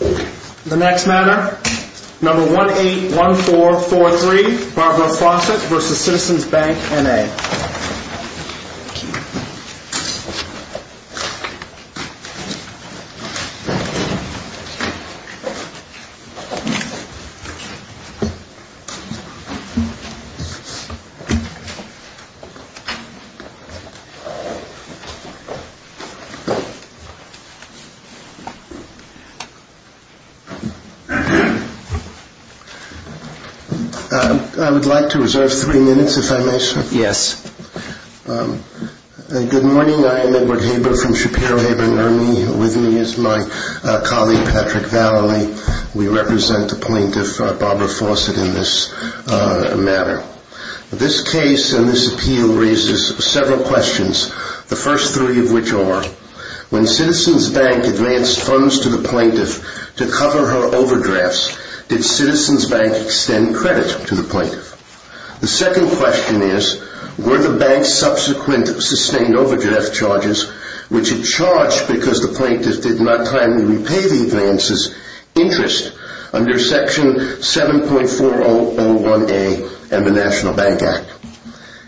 The next matter, number 181443, Barbara Fawcett v. Citizens Bank, N.A. I would like to reserve three minutes, if I may, sir. Yes. Good morning. I am Edward Haber from Shapiro Haber & Ermey. With me is my colleague, Patrick Vallely. We represent the plaintiff, Barbara Fawcett, in this matter. This case and this appeal raises several questions, the first three of which are, when Citizens Bank advanced funds to the plaintiff to cover her overdrafts, did Citizens Bank extend credit to the plaintiff? The second question is, were the bank's subsequent sustained overdraft charges, which it charged because the plaintiff did not timely repay the advance's interest, under Section 7.4001A of the National Bank Act?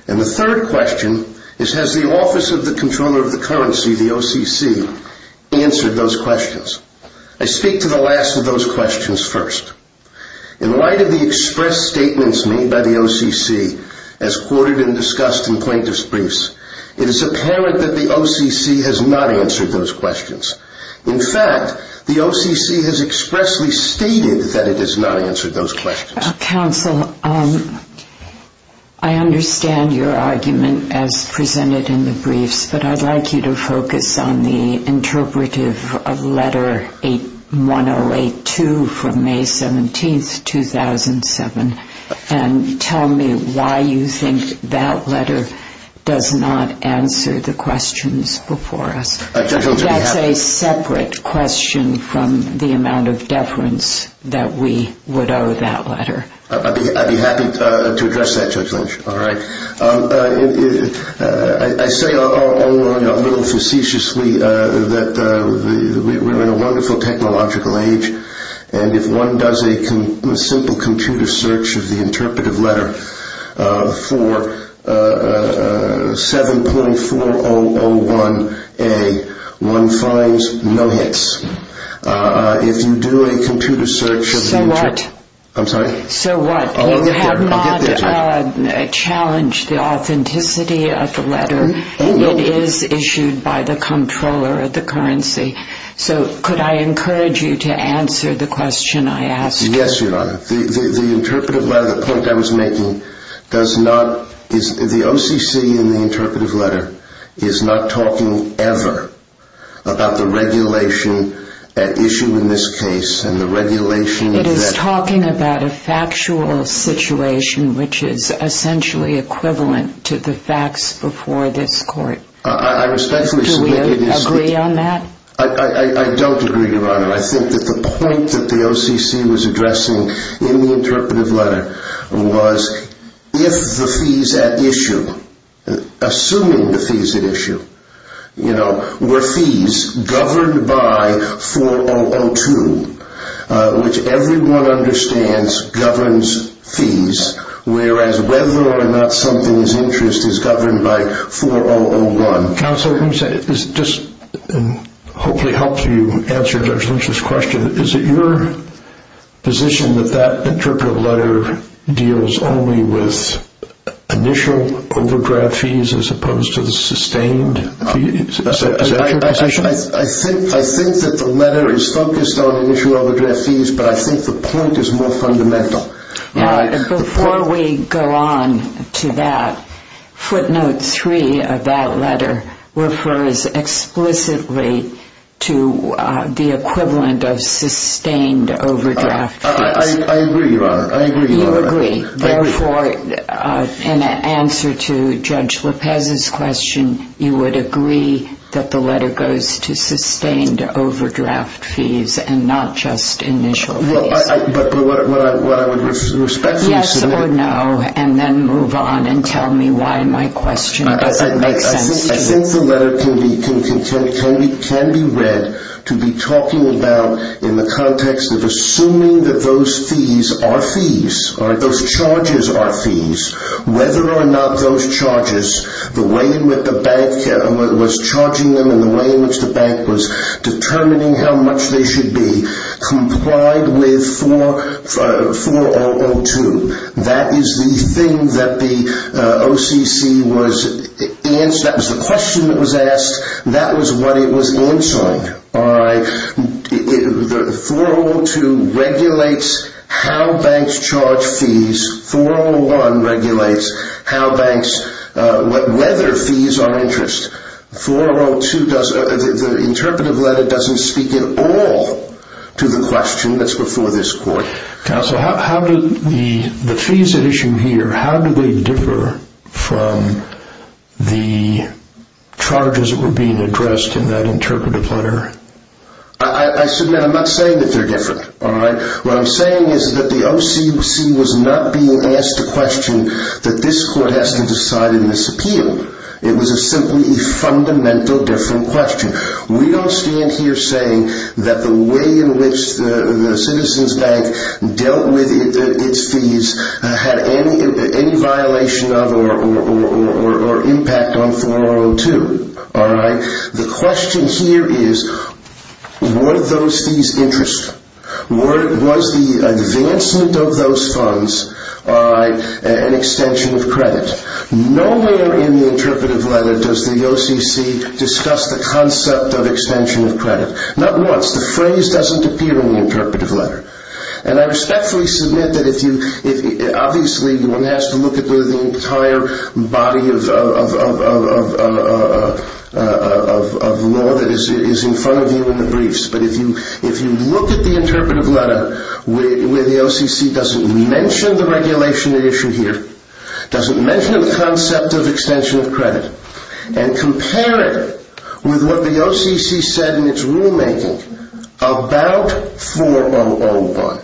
And the third question is, has the Office of the Comptroller of the Currency, the OCC, answered those questions? I speak to the last of those questions first. In light of the express statements made by the OCC as quoted and discussed in plaintiff's briefs, it is apparent that the OCC has not answered those questions. In fact, the OCC has expressly stated that it has not answered those questions. Counsel, I understand your argument as presented in the briefs, but I'd like you to focus on the interpretive of Letter 108-2 from May 17, 2007, and tell me why you think that letter does not answer the questions before us. That's a separate question from the amount of deference that we would owe that letter. I'd be happy to address that, Judge Lynch. All right. I say a little facetiously that we're in a wonderful technological age, and if one does a simple computer search of the interpretive letter for 7.4001A, one finds no hits. If you do a computer search of the interpretive letter... So what? I'm sorry? So what? You have not challenged the authenticity of the letter. It is issued by the Comptroller of the Currency. So could I encourage you to answer the question I asked? Yes, Your Honor. The interpretive letter, the point I was making, does not... The OCC in the interpretive letter is not talking ever about the regulation at issue in this case and the regulation that... It is talking about a factual situation which is essentially equivalent to the facts before this Court. I respectfully submit... Do you agree on that? I don't agree, Your Honor. I think that the point that the OCC was addressing in the interpretive letter was if the fees at issue, assuming the fees at issue, you know, were fees governed by 4.002, which everyone understands governs fees, whereas whether or not something is interest is governed by 4.001. Counsel, just to hopefully help you answer Judge Lynch's question, is it your position that that interpretive letter deals only with initial overdraft fees as opposed to the sustained fees? Is that your position? I think that the letter is focused on initial overdraft fees, but I think the point is more fundamental. Before we go on to that, footnote 3 of that letter refers explicitly to the equivalent of sustained overdraft fees. I agree, Your Honor. You agree. Therefore, in answer to Judge Lopez's question, you would agree that the letter goes to sustained overdraft fees and not just initial fees. Yes or no, and then move on and tell me why my question doesn't make sense to you. I think the letter can be read to be talking about in the context of assuming that those fees are fees, or those charges are fees, whether or not those charges, the way in which the bank was charging them and the way in which the bank was determining how much they should be, complied with 4.002. That is the thing that the OCC was asked. That was the question that was asked. That was what it was answered by. 4.002 regulates how banks charge fees. 4.001 regulates how banks, whether fees are interest. 4.002, the interpretive letter doesn't speak at all to the question that's before this court. Counsel, the fees at issue here, how do they differ from the charges that were being addressed in that interpretive letter? I submit I'm not saying that they're different. What I'm saying is that the OCC was not being asked a question that this court has to decide in this appeal. It was simply a fundamental different question. We don't stand here saying that the way in which the Citizens Bank dealt with its fees had any violation of or impact on 4.002. The question here is, were those fees interest? Was the advancement of those funds an extension of credit? Nowhere in the interpretive letter does the OCC discuss the concept of extension of credit. Not once. The phrase doesn't appear in the interpretive letter. And I respectfully submit that, obviously, one has to look at the entire body of law that is in front of you in the briefs. But if you look at the interpretive letter, where the OCC doesn't mention the regulation at issue here, doesn't mention the concept of extension of credit, and compare it with what the OCC said in its rulemaking about 4.001.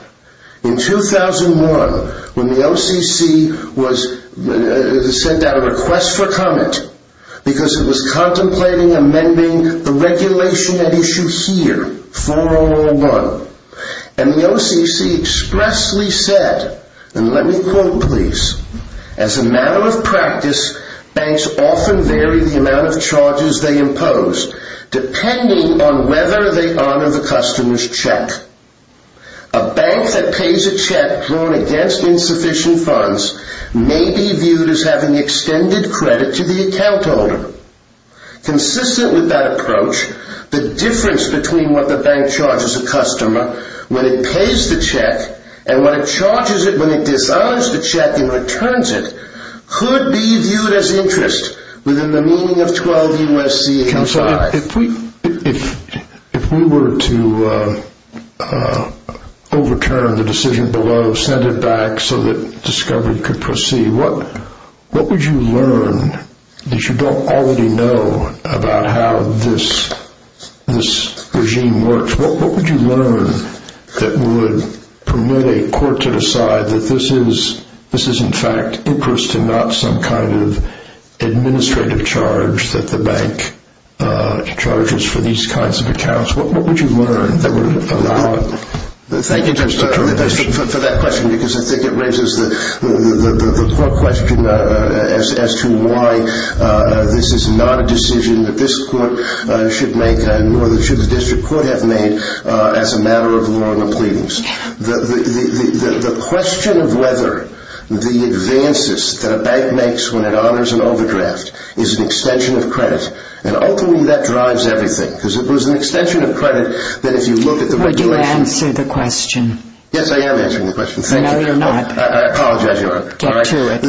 In 2001, when the OCC sent out a request for comment, because it was contemplating amending the regulation at issue here, 4.001, and the OCC expressly said, and let me quote please, as a matter of practice, banks often vary the amount of charges they impose depending on whether they honor the customer's check. A bank that pays a check drawn against insufficient funds may be viewed as having extended credit to the account holder. Consistent with that approach, the difference between what the bank charges a customer when it pays the check and when it disowns the check and returns it could be viewed as interest within the meaning of 12 U.S.C.A. 5. Counselor, if we were to overturn the decision below, send it back so that discovery could proceed, what would you learn that you don't already know about how this regime works? What would you learn that would permit a court to decide that this is in fact interest and not some kind of administrative charge that the bank charges for these kinds of accounts? What would you learn that would allow it? Thank you for that question because I think it raises the core question as to why this is not a decision that this court should make and nor should the district court have made as a matter of law and the pleadings. The question of whether the advances that a bank makes when it honors an overdraft is an extension of credit, and ultimately that drives everything Would you answer the question? Yes, I am answering the question. No, you're not. I apologize, Your Honor. Get to it.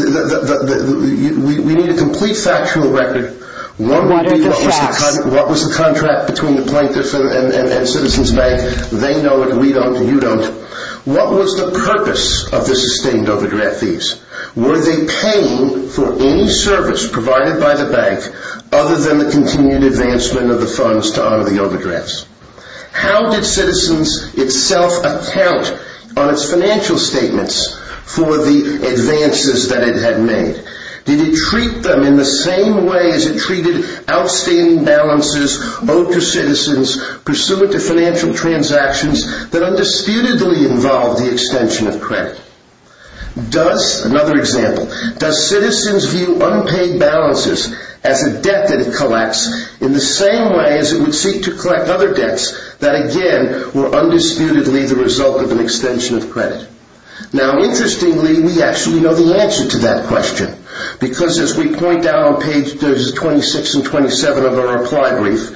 We need a complete factual record. What are the facts? What was the contract between the plaintiff and Citizens Bank? They know it, we don't, you don't. What was the purpose of the sustained overdraft fees? Were they paying for any service provided by the bank other than the continued advancement of the funds to honor the overdrafts? How did Citizens itself account on its financial statements for the advances that it had made? Did it treat them in the same way as it treated outstanding balances owed to citizens pursuant to financial transactions that undisputedly involved the extension of credit? Does, another example, does Citizens view unpaid balances as a debt that it collects in the same way as it would seek to collect other debts that, again, were undisputedly the result of an extension of credit? Now, interestingly, we actually know the answer to that question because, as we point out on pages 26 and 27 of our reply brief,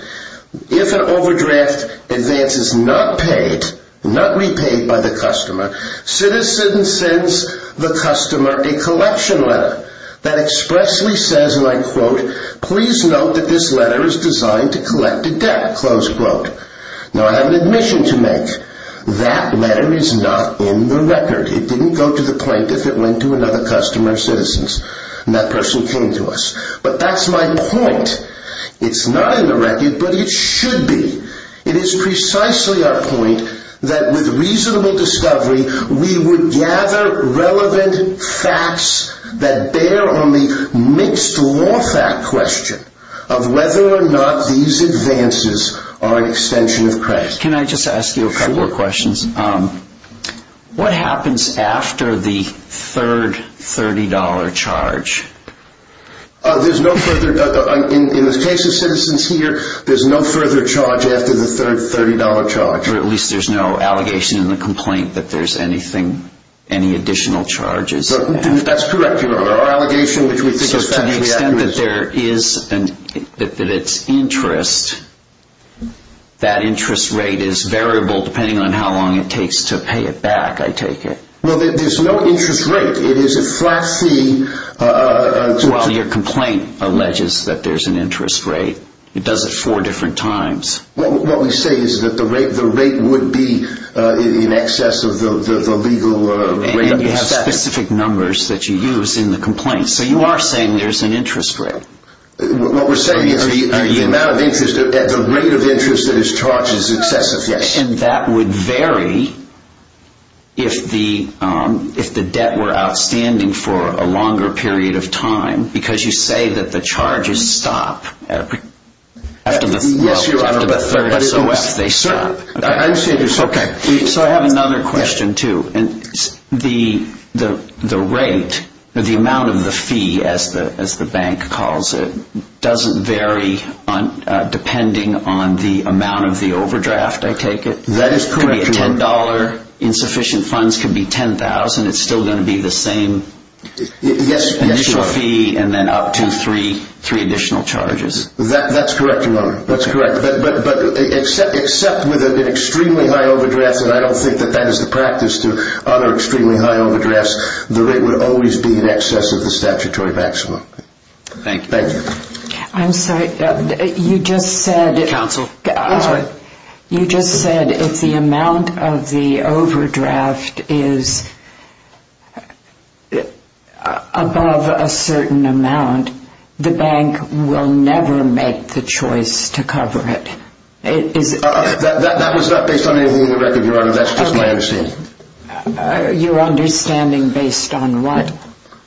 if an overdraft advance is not paid, not repaid by the customer, Citizens sends the customer a collection letter that expressly says, and I quote, please note that this letter is designed to collect a debt, close quote. Now, I have an admission to make. That letter is not in the record. It didn't go to the plaintiff. It went to another customer of Citizens. And that person came to us. But that's my point. It's not in the record, but it should be. It is precisely our point that, with reasonable discovery, we would gather relevant facts that bear on the mixed law fact question of whether or not these advances are an extension of credit. Can I just ask you a couple of questions? Sure. What happens after the third $30 charge? There's no further, in the case of Citizens here, there's no further charge after the third $30 charge. Or at least there's no allegation in the complaint that there's anything, any additional charges. That's correct. Our allegation, which we think is factually accurate. So to the extent that there is, that it's interest, that interest rate is variable depending on how long it takes to pay it back, I take it. Well, there's no interest rate. It is a flat fee. Well, your complaint alleges that there's an interest rate. It does it four different times. What we say is that the rate would be in excess of the legal rate. And you have specific numbers that you use in the complaint. So you are saying there's an interest rate. What we're saying is the amount of interest, the rate of interest that is charged is excessive, yes. And that would vary if the debt were outstanding for a longer period of time, because you say that the charges stop after the third, so if they stop. So I have another question, too. The rate, the amount of the fee, as the bank calls it, doesn't vary depending on the amount of the overdraft, I take it. That is correct. It could be $10. Insufficient funds could be $10,000. And it's still going to be the same initial fee and then up to three additional charges. That's correct, Your Honor. That's correct. But except with an extremely high overdraft, and I don't think that that is the practice to honor extremely high overdrafts, the rate would always be in excess of the statutory maximum. Thank you. I'm sorry. You just said. Counsel. I'm sorry. You just said if the amount of the overdraft is above a certain amount, the bank will never make the choice to cover it. That was not based on anything in the record, Your Honor. That's just my understanding. Okay. Your understanding based on what?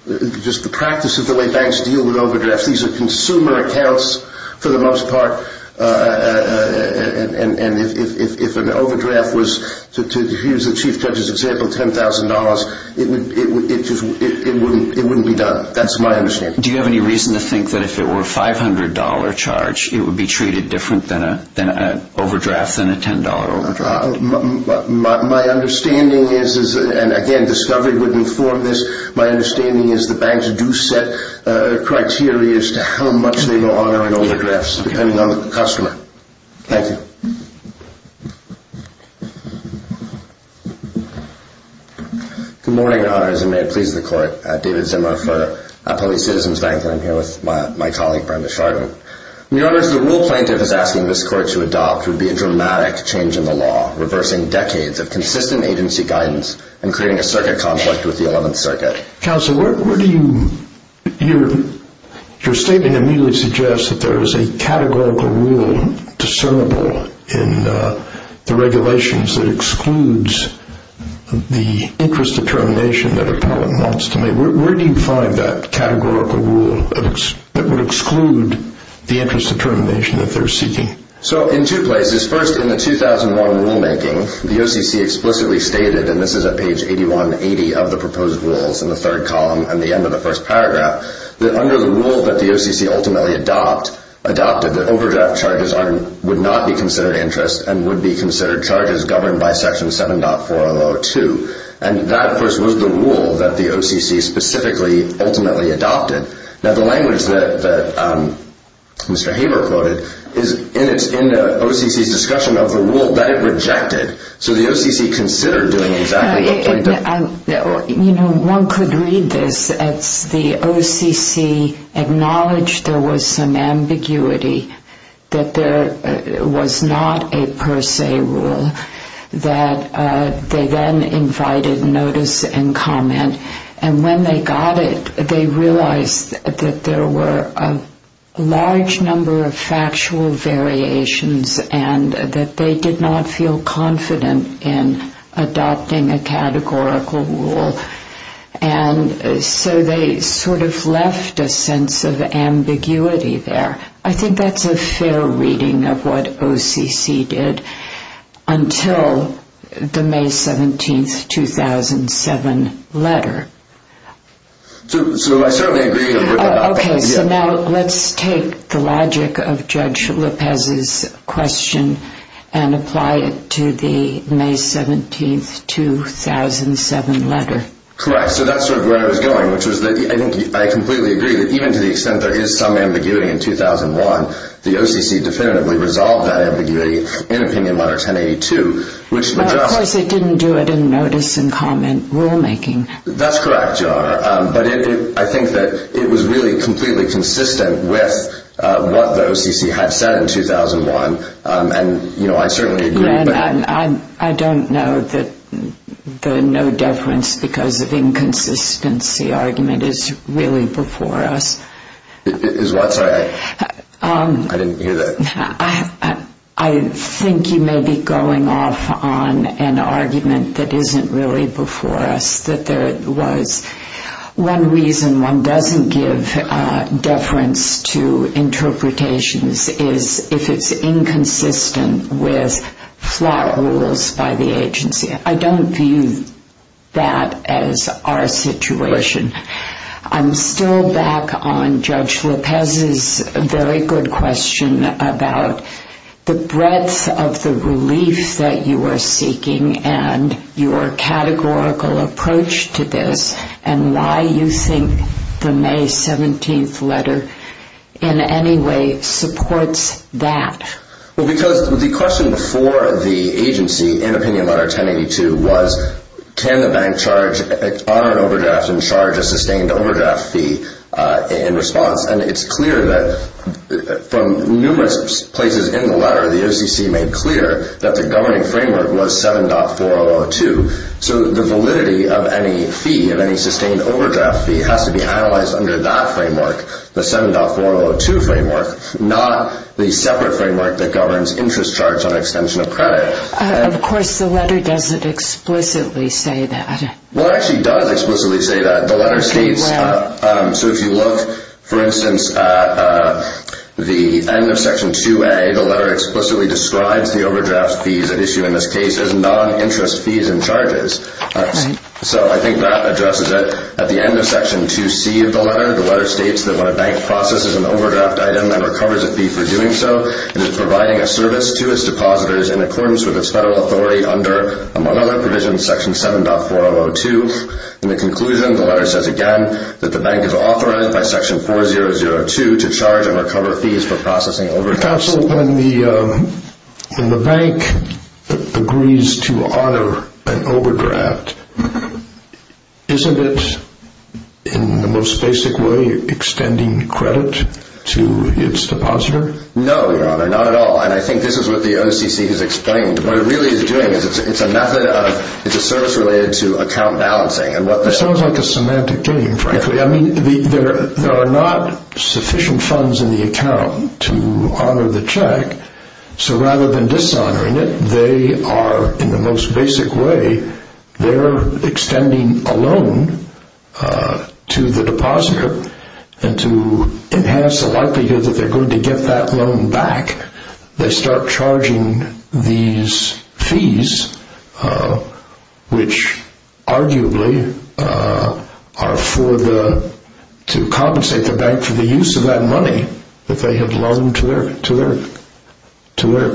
Just the practice of the way banks deal with overdrafts. These are consumer accounts for the most part, and if an overdraft was, to use the Chief Judge's example, $10,000, it wouldn't be done. That's my understanding. Do you have any reason to think that if it were a $500 charge, it would be treated different than an overdraft than a $10 overdraft? My understanding is, and again, discovery would inform this, my understanding is the banks do set criteria as to how much they will honor an overdraft, depending on the customer. Thank you. Good morning, Your Honors, and may it please the Court. David Zimmer for Police Citizens Bank, and I'm here with my colleague Brenda Shardman. Your Honors, the rule plaintiff is asking this Court to adopt would be a dramatic change in the law, reversing decades of consistent agency guidance and creating a circuit conflict with the 11th Circuit. Counsel, your statement immediately suggests that there is a categorical rule discernible in the regulations that excludes the interest determination that a parliament wants to make. Where do you find that categorical rule that would exclude the interest determination that they're seeking? In two places. First, in the 2001 rulemaking, the OCC explicitly stated, and this is at page 8180 of the proposed rules in the third column and the end of the first paragraph, that under the rule that the OCC ultimately adopted, that overdraft charges would not be considered interest and would be considered charges governed by Section 7.4002. And that, of course, was the rule that the OCC specifically ultimately adopted. Now, the language that Mr. Haber quoted is in the OCC's discussion of the rule that it rejected. So the OCC considered doing exactly what they did. You know, one could read this as the OCC acknowledged there was some ambiguity, that there was not a per se rule, that they then invited notice and comment. And when they got it, they realized that there were a large number of factual variations and that they did not feel confident in adopting a categorical rule. And so they sort of left a sense of ambiguity there. I think that's a fair reading of what OCC did until the May 17, 2007, letter. So I certainly agree with that. Okay, so now let's take the logic of Judge Lopez's question and apply it to the May 17, 2007, letter. Correct. So that's sort of where I was going, which was that I think I completely agree that even to the extent there is some ambiguity in 2001, the OCC definitively resolved that ambiguity in Opinion Letter 1082, which would just Well, of course, it didn't do it in notice and comment rulemaking. That's correct, Your Honor. But I think that it was really completely consistent with what the OCC had said in 2001. And, you know, I certainly agree. I don't know that the no deference because of inconsistency argument is really before us. Is what? Sorry, I didn't hear that. I think you may be going off on an argument that isn't really before us, that there was one reason one doesn't give deference to interpretations is if it's inconsistent with FLAA rules by the agency. I don't view that as our situation. I'm still back on Judge Lopez's very good question about the breadth of the relief that you are seeking and your categorical approach to this and why you think the May 17th letter in any way supports that. Well, because the question before the agency in Opinion Letter 1082 was, can the bank honor an overdraft and charge a sustained overdraft fee in response? And it's clear that from numerous places in the letter, the OCC made clear that the governing framework was 7.4002. So the validity of any fee, of any sustained overdraft fee, has to be analyzed under that framework, the 7.4002 framework, not the separate framework that governs interest charge on extension of credit. Of course, the letter doesn't explicitly say that. Well, it actually does explicitly say that. So if you look, for instance, at the end of Section 2A, the letter explicitly describes the overdraft fees at issue in this case as non-interest fees and charges. So I think that addresses it. At the end of Section 2C of the letter, the letter states that when a bank processes an overdraft item and recovers a fee for doing so, it is providing a service to its depositors in accordance with its federal authority under, among other provisions, Section 7.4002. In the conclusion, the letter says again that the bank is authorized by Section 4.002 to charge and recover fees for processing overdrafts. Counsel, when the bank agrees to honor an overdraft, isn't it in the most basic way extending credit to its depositor? No, Your Honor, not at all. And I think this is what the OCC has explained. What it really is doing is it's a method of – it's a service related to account balancing. It sounds like a semantic game, frankly. I mean, there are not sufficient funds in the account to honor the check, so rather than dishonoring it, they are, in the most basic way, they're extending a loan to the depositor, and to enhance the likelihood that they're going to get that loan back, they start charging these fees, which arguably are for the – to compensate the bank for the use of that money that they have loaned to their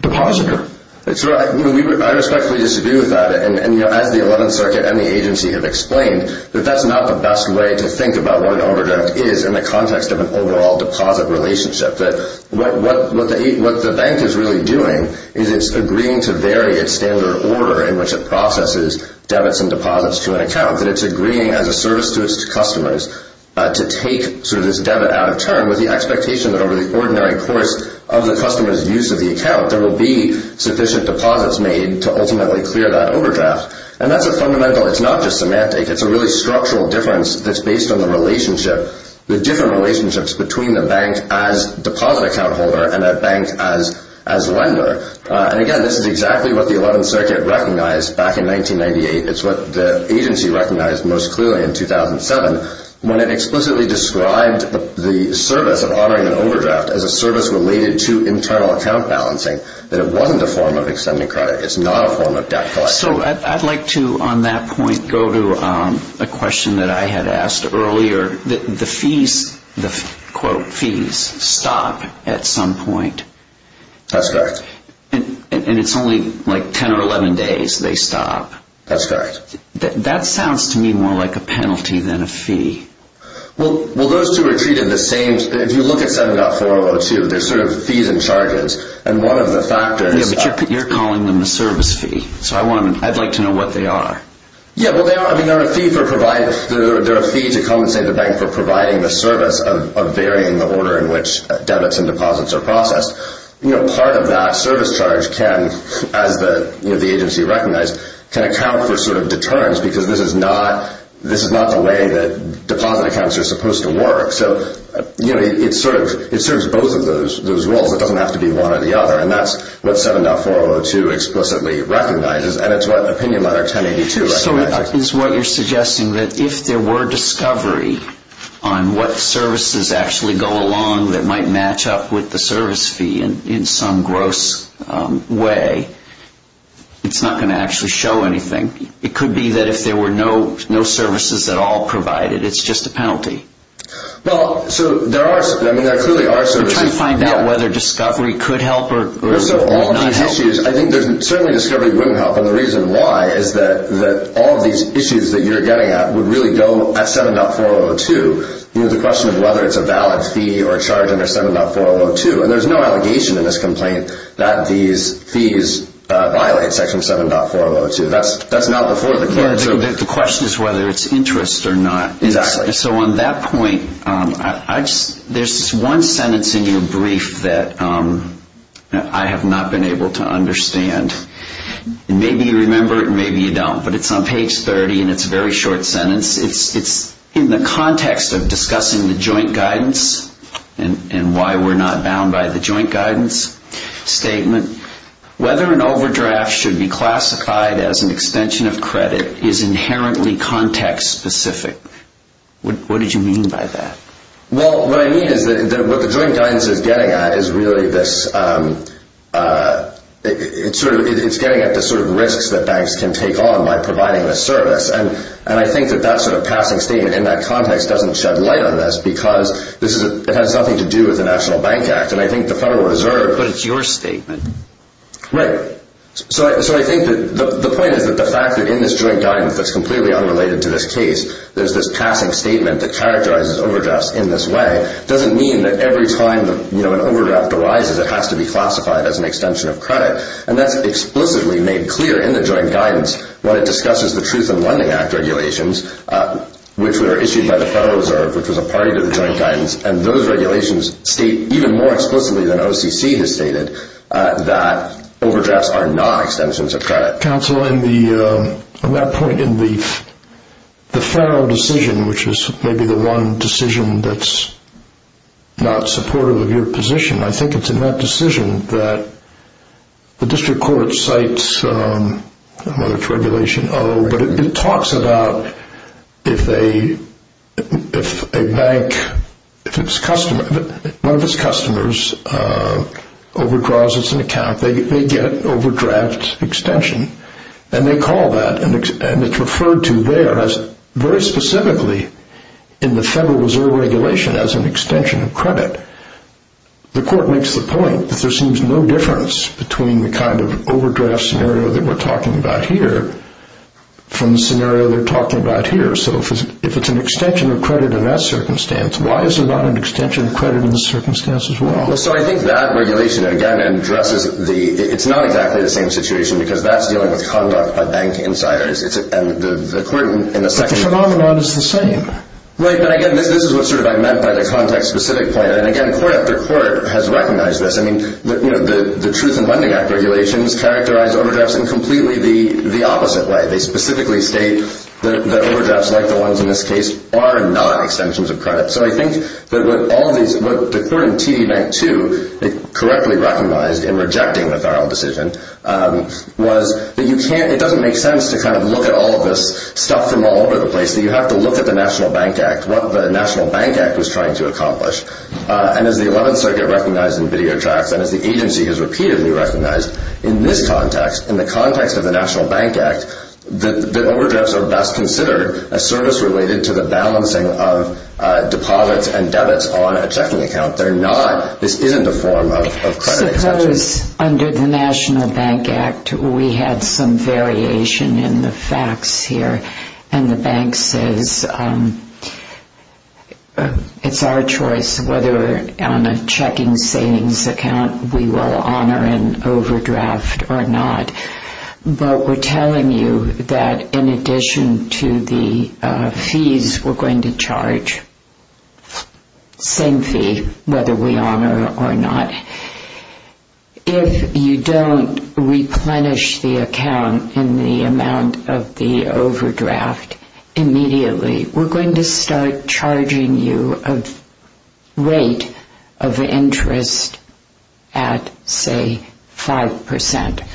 depositor. That's right. I respectfully disagree with that. And, you know, as the Eleventh Circuit and the agency have explained, that that's not the best way to think about what an overdraft is in the context of an overall deposit relationship. That what the bank is really doing is it's agreeing to vary its standard order in which it processes debits and deposits to an account. That it's agreeing as a service to its customers to take sort of this debit out of turn with the expectation that over the ordinary course of the customer's use of the account, there will be sufficient deposits made to ultimately clear that overdraft. And that's a fundamental – it's not just semantic. It's a really structural difference that's based on the relationship, the different relationships between the bank as deposit account holder and that bank as lender. And, again, this is exactly what the Eleventh Circuit recognized back in 1998. It's what the agency recognized most clearly in 2007 when it explicitly described the service of honoring an overdraft as a service related to internal account balancing, that it wasn't a form of extending credit. It's not a form of debt collection. So I'd like to, on that point, go to a question that I had asked earlier. The fees, the quote, fees, stop at some point. That's correct. And it's only like 10 or 11 days they stop. That's correct. That sounds to me more like a penalty than a fee. Well, those two are treated the same. If you look at 7.4002, there's sort of fees and charges. And one of the factors – Yeah, but you're calling them a service fee. So I'd like to know what they are. Yeah, well, they are a fee to compensate the bank for providing the service of varying the order in which debits and deposits are processed. Part of that service charge can, as the agency recognized, can account for sort of deterrence because this is not the way that deposit accounts are supposed to work. So it serves both of those roles. It doesn't have to be one or the other. And that's what 7.4002 explicitly recognizes. And it's what Opinion Letter 1082 recognizes. So is what you're suggesting that if there were discovery on what services actually go along that might match up with the service fee in some gross way, it's not going to actually show anything. It could be that if there were no services at all provided, it's just a penalty. Well, so there are – I mean, there clearly are services. We're trying to find out whether discovery could help or not help. I think certainly discovery wouldn't help. And the reason why is that all of these issues that you're getting at would really go at 7.4002. The question is whether it's a valid fee or a charge under 7.4002. And there's no allegation in this complaint that these fees violate Section 7.4002. That's not before the court. The question is whether it's interest or not. Exactly. So on that point, there's one sentence in your brief that I have not been able to understand. Maybe you remember it and maybe you don't, but it's on page 30 and it's a very short sentence. It's in the context of discussing the joint guidance and why we're not bound by the joint guidance statement. Whether an overdraft should be classified as an extension of credit is inherently context-specific. What did you mean by that? Well, what I mean is that what the joint guidance is getting at is really this sort of risks that banks can take on by providing this service. And I think that that sort of passing statement in that context doesn't shed light on this because it has nothing to do with the National Bank Act. And I think the Federal Reserve... But it's your statement. Right. So I think the point is that the fact that in this joint guidance that's completely unrelated to this case, there's this passing statement that characterizes overdrafts in this way doesn't mean that every time an overdraft arises, it has to be classified as an extension of credit. And that's explicitly made clear in the joint guidance when it discusses the Truth in Lending Act regulations, which were issued by the Federal Reserve, which was a party to the joint guidance. And those regulations state even more explicitly than OCC has stated that overdrafts are not extensions of credit. Counsel, on that point in the Federal decision, which is maybe the one decision that's not supportive of your position, I think it's in that decision that the district court cites, I don't know if it's Regulation O, but it talks about if a bank, if one of its customers overdraws its account, they get overdraft extension. And they call that, and it's referred to there as very specifically in the Federal Reserve regulation as an extension of credit. The court makes the point that there seems no difference between the kind of overdraft scenario that we're talking about here from the scenario they're talking about here. So if it's an extension of credit in that circumstance, why is there not an extension of credit in the circumstance as well? So I think that regulation, again, addresses the – it's not exactly the same situation because that's dealing with conduct by bank insiders. And the court in the second – The phenomenon is the same. Right, but again, this is what sort of I meant by the context-specific point. And again, court after court has recognized this. I mean, the Truth in Lending Act regulations characterize overdrafts in completely the opposite way. They specifically state that overdrafts, like the ones in this case, are not extensions of credit. So I think that what all of these – what the court in TD Night 2 correctly recognized in rejecting the federal decision was that you can't – it doesn't make sense to kind of look at all of this stuff from all over the place, that you have to look at the National Bank Act, what the National Bank Act was trying to accomplish. And as the 11th Circuit recognized in video tracts and as the agency has repeatedly recognized in this context, in the context of the National Bank Act, that overdrafts are best considered as service-related to the balancing of deposits and debits on a checking account. They're not – this isn't a form of credit extension. Suppose under the National Bank Act we had some variation in the facts here and the bank says it's our choice whether on a checking savings account we will honor an overdraft or not. But we're telling you that in addition to the fees we're going to charge, same fee, whether we honor or not, if you don't replenish the account in the amount of the overdraft immediately, we're going to start charging you a rate of interest at, say, 5%.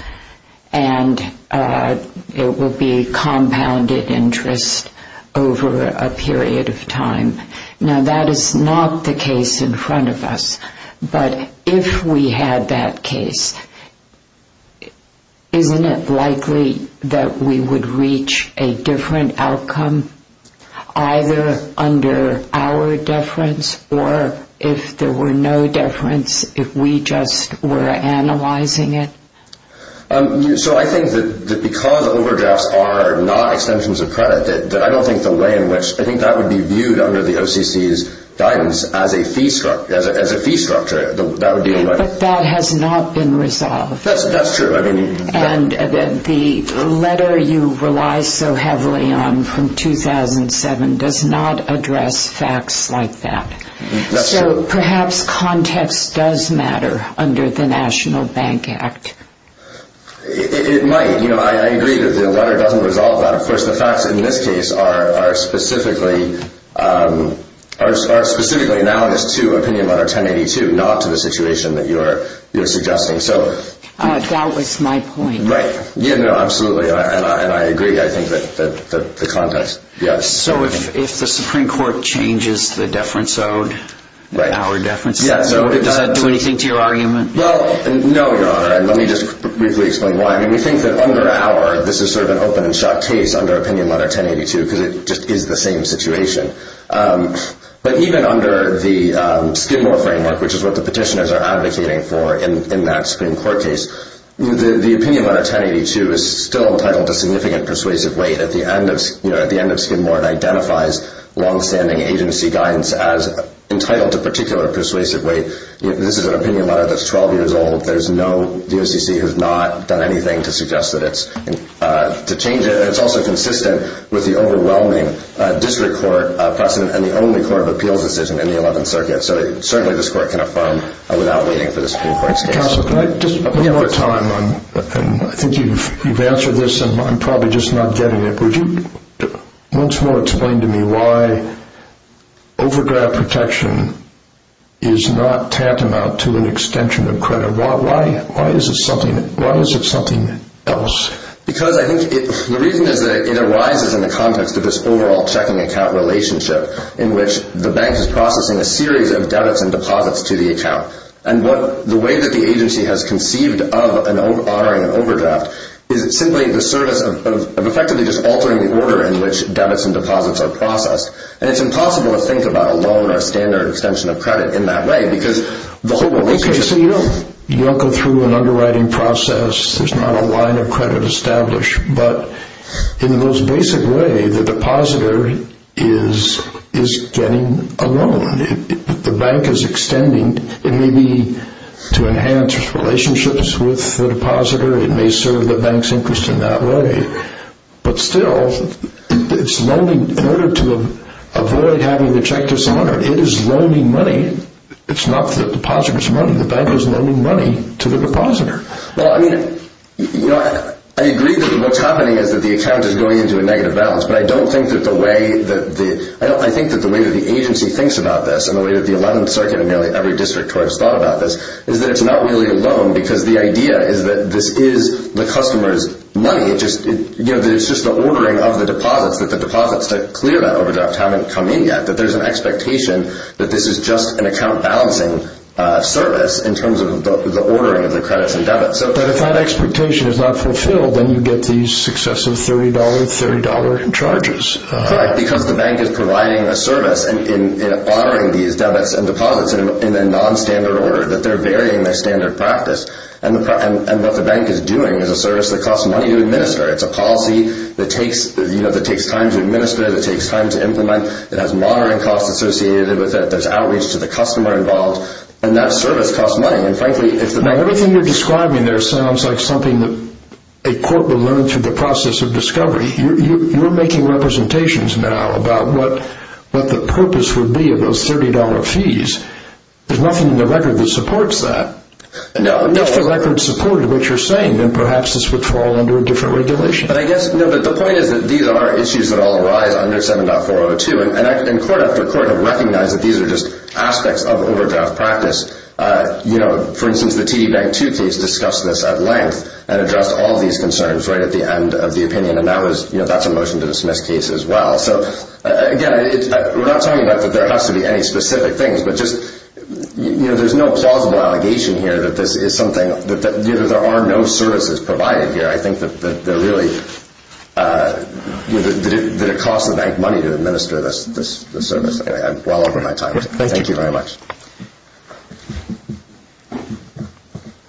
And it will be compounded interest over a period of time. Now, that is not the case in front of us. But if we had that case, isn't it likely that we would reach a different outcome either under our deference or if there were no deference, if we just were analyzing it? So I think that because overdrafts are not extensions of credit, I don't think the way in which – I think that would be viewed under the OCC's guidance as a fee structure. But that has not been resolved. That's true. And the letter you rely so heavily on from 2007 does not address facts like that. That's true. So perhaps context does matter under the National Bank Act. It might. I agree that the letter doesn't resolve that. Of course, the facts in this case are specifically analogous to Opinion Letter 1082, not to the situation that you're suggesting. That was my point. Right. No, absolutely. And I agree. I think that the context – yes. So if the Supreme Court changes the deference owed, our deference owed, does that do anything to your argument? Well, no, Your Honor. And let me just briefly explain why. I mean, we think that under our – this is sort of an open and shut case under Opinion Letter 1082 because it just is the same situation. But even under the Skidmore framework, which is what the petitioners are advocating for in that Supreme Court case, the Opinion Letter 1082 is still entitled to significant persuasive weight. At the end of Skidmore, it identifies longstanding agency guidance as entitled to particular persuasive weight. This is an Opinion Letter that's 12 years old. There's no DOCC who's not done anything to suggest that it's – to change it. And it's also consistent with the overwhelming district court precedent and the only court of appeals decision in the 11th Circuit. So certainly this court can affirm without waiting for the Supreme Court's case. Counsel, can I just – one more time. I think you've answered this, and I'm probably just not getting it. Would you once more explain to me why overgrad protection is not tantamount to an extension of credit? Why is it something else? Because I think the reason is that it arises in the context of this overall checking account relationship in which the bank is processing a series of debits and deposits to the account. And the way that the agency has conceived of an honoring overdraft is simply the service of effectively just altering the order in which debits and deposits are processed. And it's impossible to think about a loan or a standard extension of credit in that way because the whole – Okay, so you don't go through an underwriting process. There's not a line of credit established. But in the most basic way, the depositor is getting a loan. The bank is extending. It may be to enhance relationships with the depositor. It may serve the bank's interest in that way. But still, it's loaning in order to avoid having the check dishonored. It is loaning money. It's not the depositor's money. The bank is loaning money to the depositor. Well, I mean, you know, I agree that what's happening is that the account is going into a negative balance. But I don't think that the way that the – I think that the way that the agency thinks about this and the way that the 11th Circuit and nearly every district court has thought about this is that it's not really a loan because the idea is that this is the customer's money. It's just the ordering of the deposits, that the deposits to clear that overdraft haven't come in yet, that there's an expectation that this is just an account-balancing service in terms of the ordering of the credits and debits. But if that expectation is not fulfilled, then you get these successive $30, $30 in charges. Right, because the bank is providing a service in ordering these debits and deposits in a nonstandard order, that they're varying their standard practice. And what the bank is doing is a service that costs money to administer. It's a policy that takes time to administer, that takes time to implement. It has monitoring costs associated with it. There's outreach to the customer involved. And that service costs money. Now, everything you're describing there sounds like something that a court will learn through the process of discovery. You're making representations now about what the purpose would be of those $30 fees. There's nothing in the record that supports that. If the record supported what you're saying, then perhaps this would fall under a different regulation. But the point is that these are issues that all arise under 7.402. And court after court have recognized that these are just aspects of overdraft practice. For instance, the TD Bank 2 case discussed this at length and addressed all these concerns right at the end of the opinion. And that's a motion to dismiss case as well. Again, we're not talking about that there has to be any specific things, but there's no plausible allegation here that there are no services provided here. I think that it costs the bank money to administer this service. I'm well over my time. Thank you very much.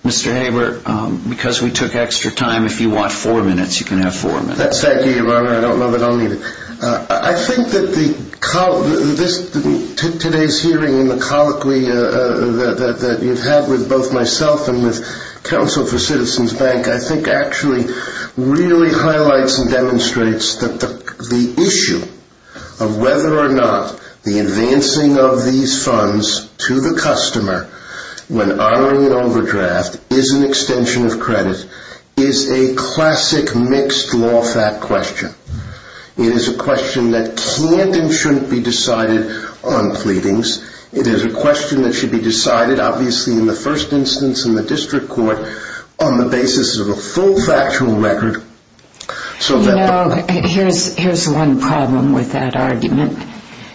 Mr. Haber, because we took extra time, if you want four minutes, you can have four minutes. Thank you, Your Honor. I don't know that I'll need it. I think that today's hearing and the colloquy that you've had with both myself and with Counsel for Citizens Bank, I think actually really highlights and demonstrates that the issue of whether or not the advancing of these funds to the customer when honoring an overdraft is an extension of credit is a classic mixed law fact question. It is a question that can't and shouldn't be decided on pleadings. It is a question that should be decided, obviously, in the first instance in the district court on the basis of a full factual record. You know, here's one problem with that argument.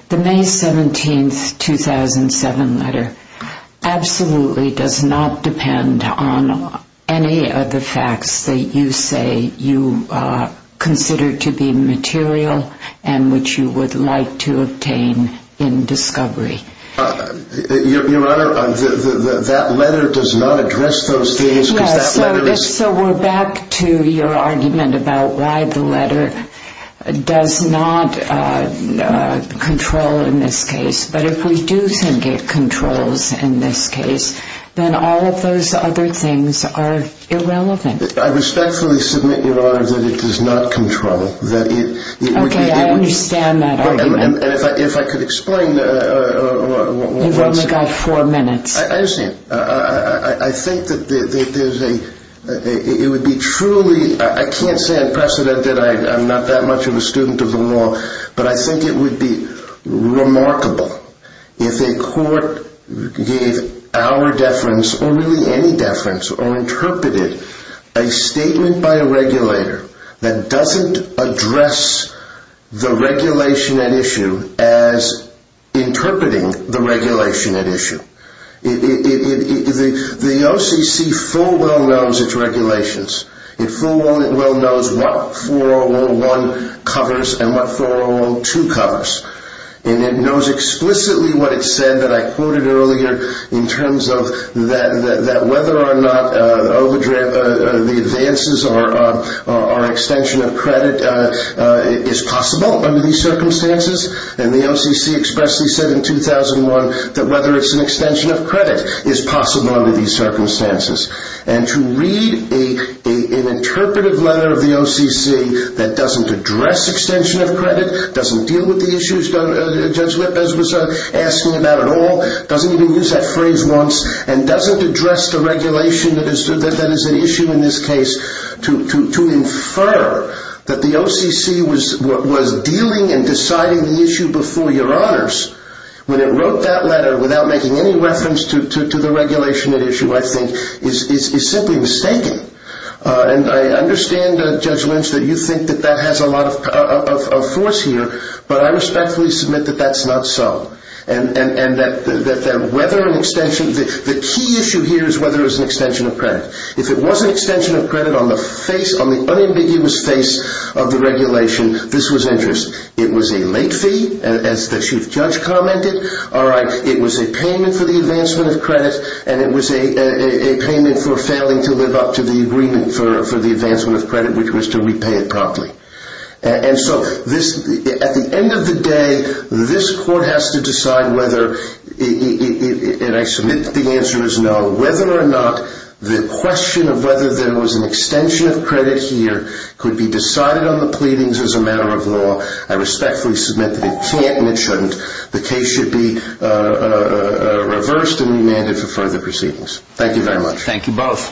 The May 17th, 2007 letter absolutely does not depend on any of the facts that you say you consider to be material and which you would like to obtain in discovery. Your Honor, that letter does not address those things because that letter is... So we're back to your argument about why the letter does not control in this case. But if we do think it controls in this case, then all of those other things are irrelevant. I respectfully submit, Your Honor, that it does not control. Okay, I understand that argument. And if I could explain... You've only got four minutes. I understand. I think that there's a... It would be truly... I can't say unprecedented. I'm not that much of a student of the law. But I think it would be remarkable if a court gave our deference or really any deference or interpreted a statement by a regulator that doesn't address the regulation at issue as interpreting the regulation at issue. The OCC full well knows its regulations. It full well knows what 401 covers and what 4012 covers. And it knows explicitly what it said that I quoted earlier in terms of that whether or not the advances or extension of credit is possible under these circumstances. And the OCC expressly said in 2001 that whether it's an extension of credit is possible under these circumstances. And to read an interpretive letter of the OCC that doesn't address extension of credit, doesn't deal with the issues Judge Lippes was asking about at all, doesn't even use that phrase once, and doesn't address the regulation that is at issue in this case to infer that the OCC was dealing and deciding the issue before your honors, when it wrote that letter without making any reference to the regulation at issue, I think, is simply mistaken. And I understand, Judge Lynch, that you think that that has a lot of force here. But I respectfully submit that that's not so. And that the key issue here is whether it's an extension of credit. If it was an extension of credit on the unambiguous face of the regulation, this was interest. It was a late fee, as the Chief Judge commented. It was a payment for the advancement of credit. And it was a payment for failing to live up to the agreement for the advancement of credit, which was to repay it promptly. And so, at the end of the day, this Court has to decide whether, and I submit that the answer is no, whether or not the question of whether there was an extension of credit here could be decided on the pleadings as a matter of law. I respectfully submit that it can't and it shouldn't. The case should be reversed and remanded for further proceedings. Thank you very much. Thank you both.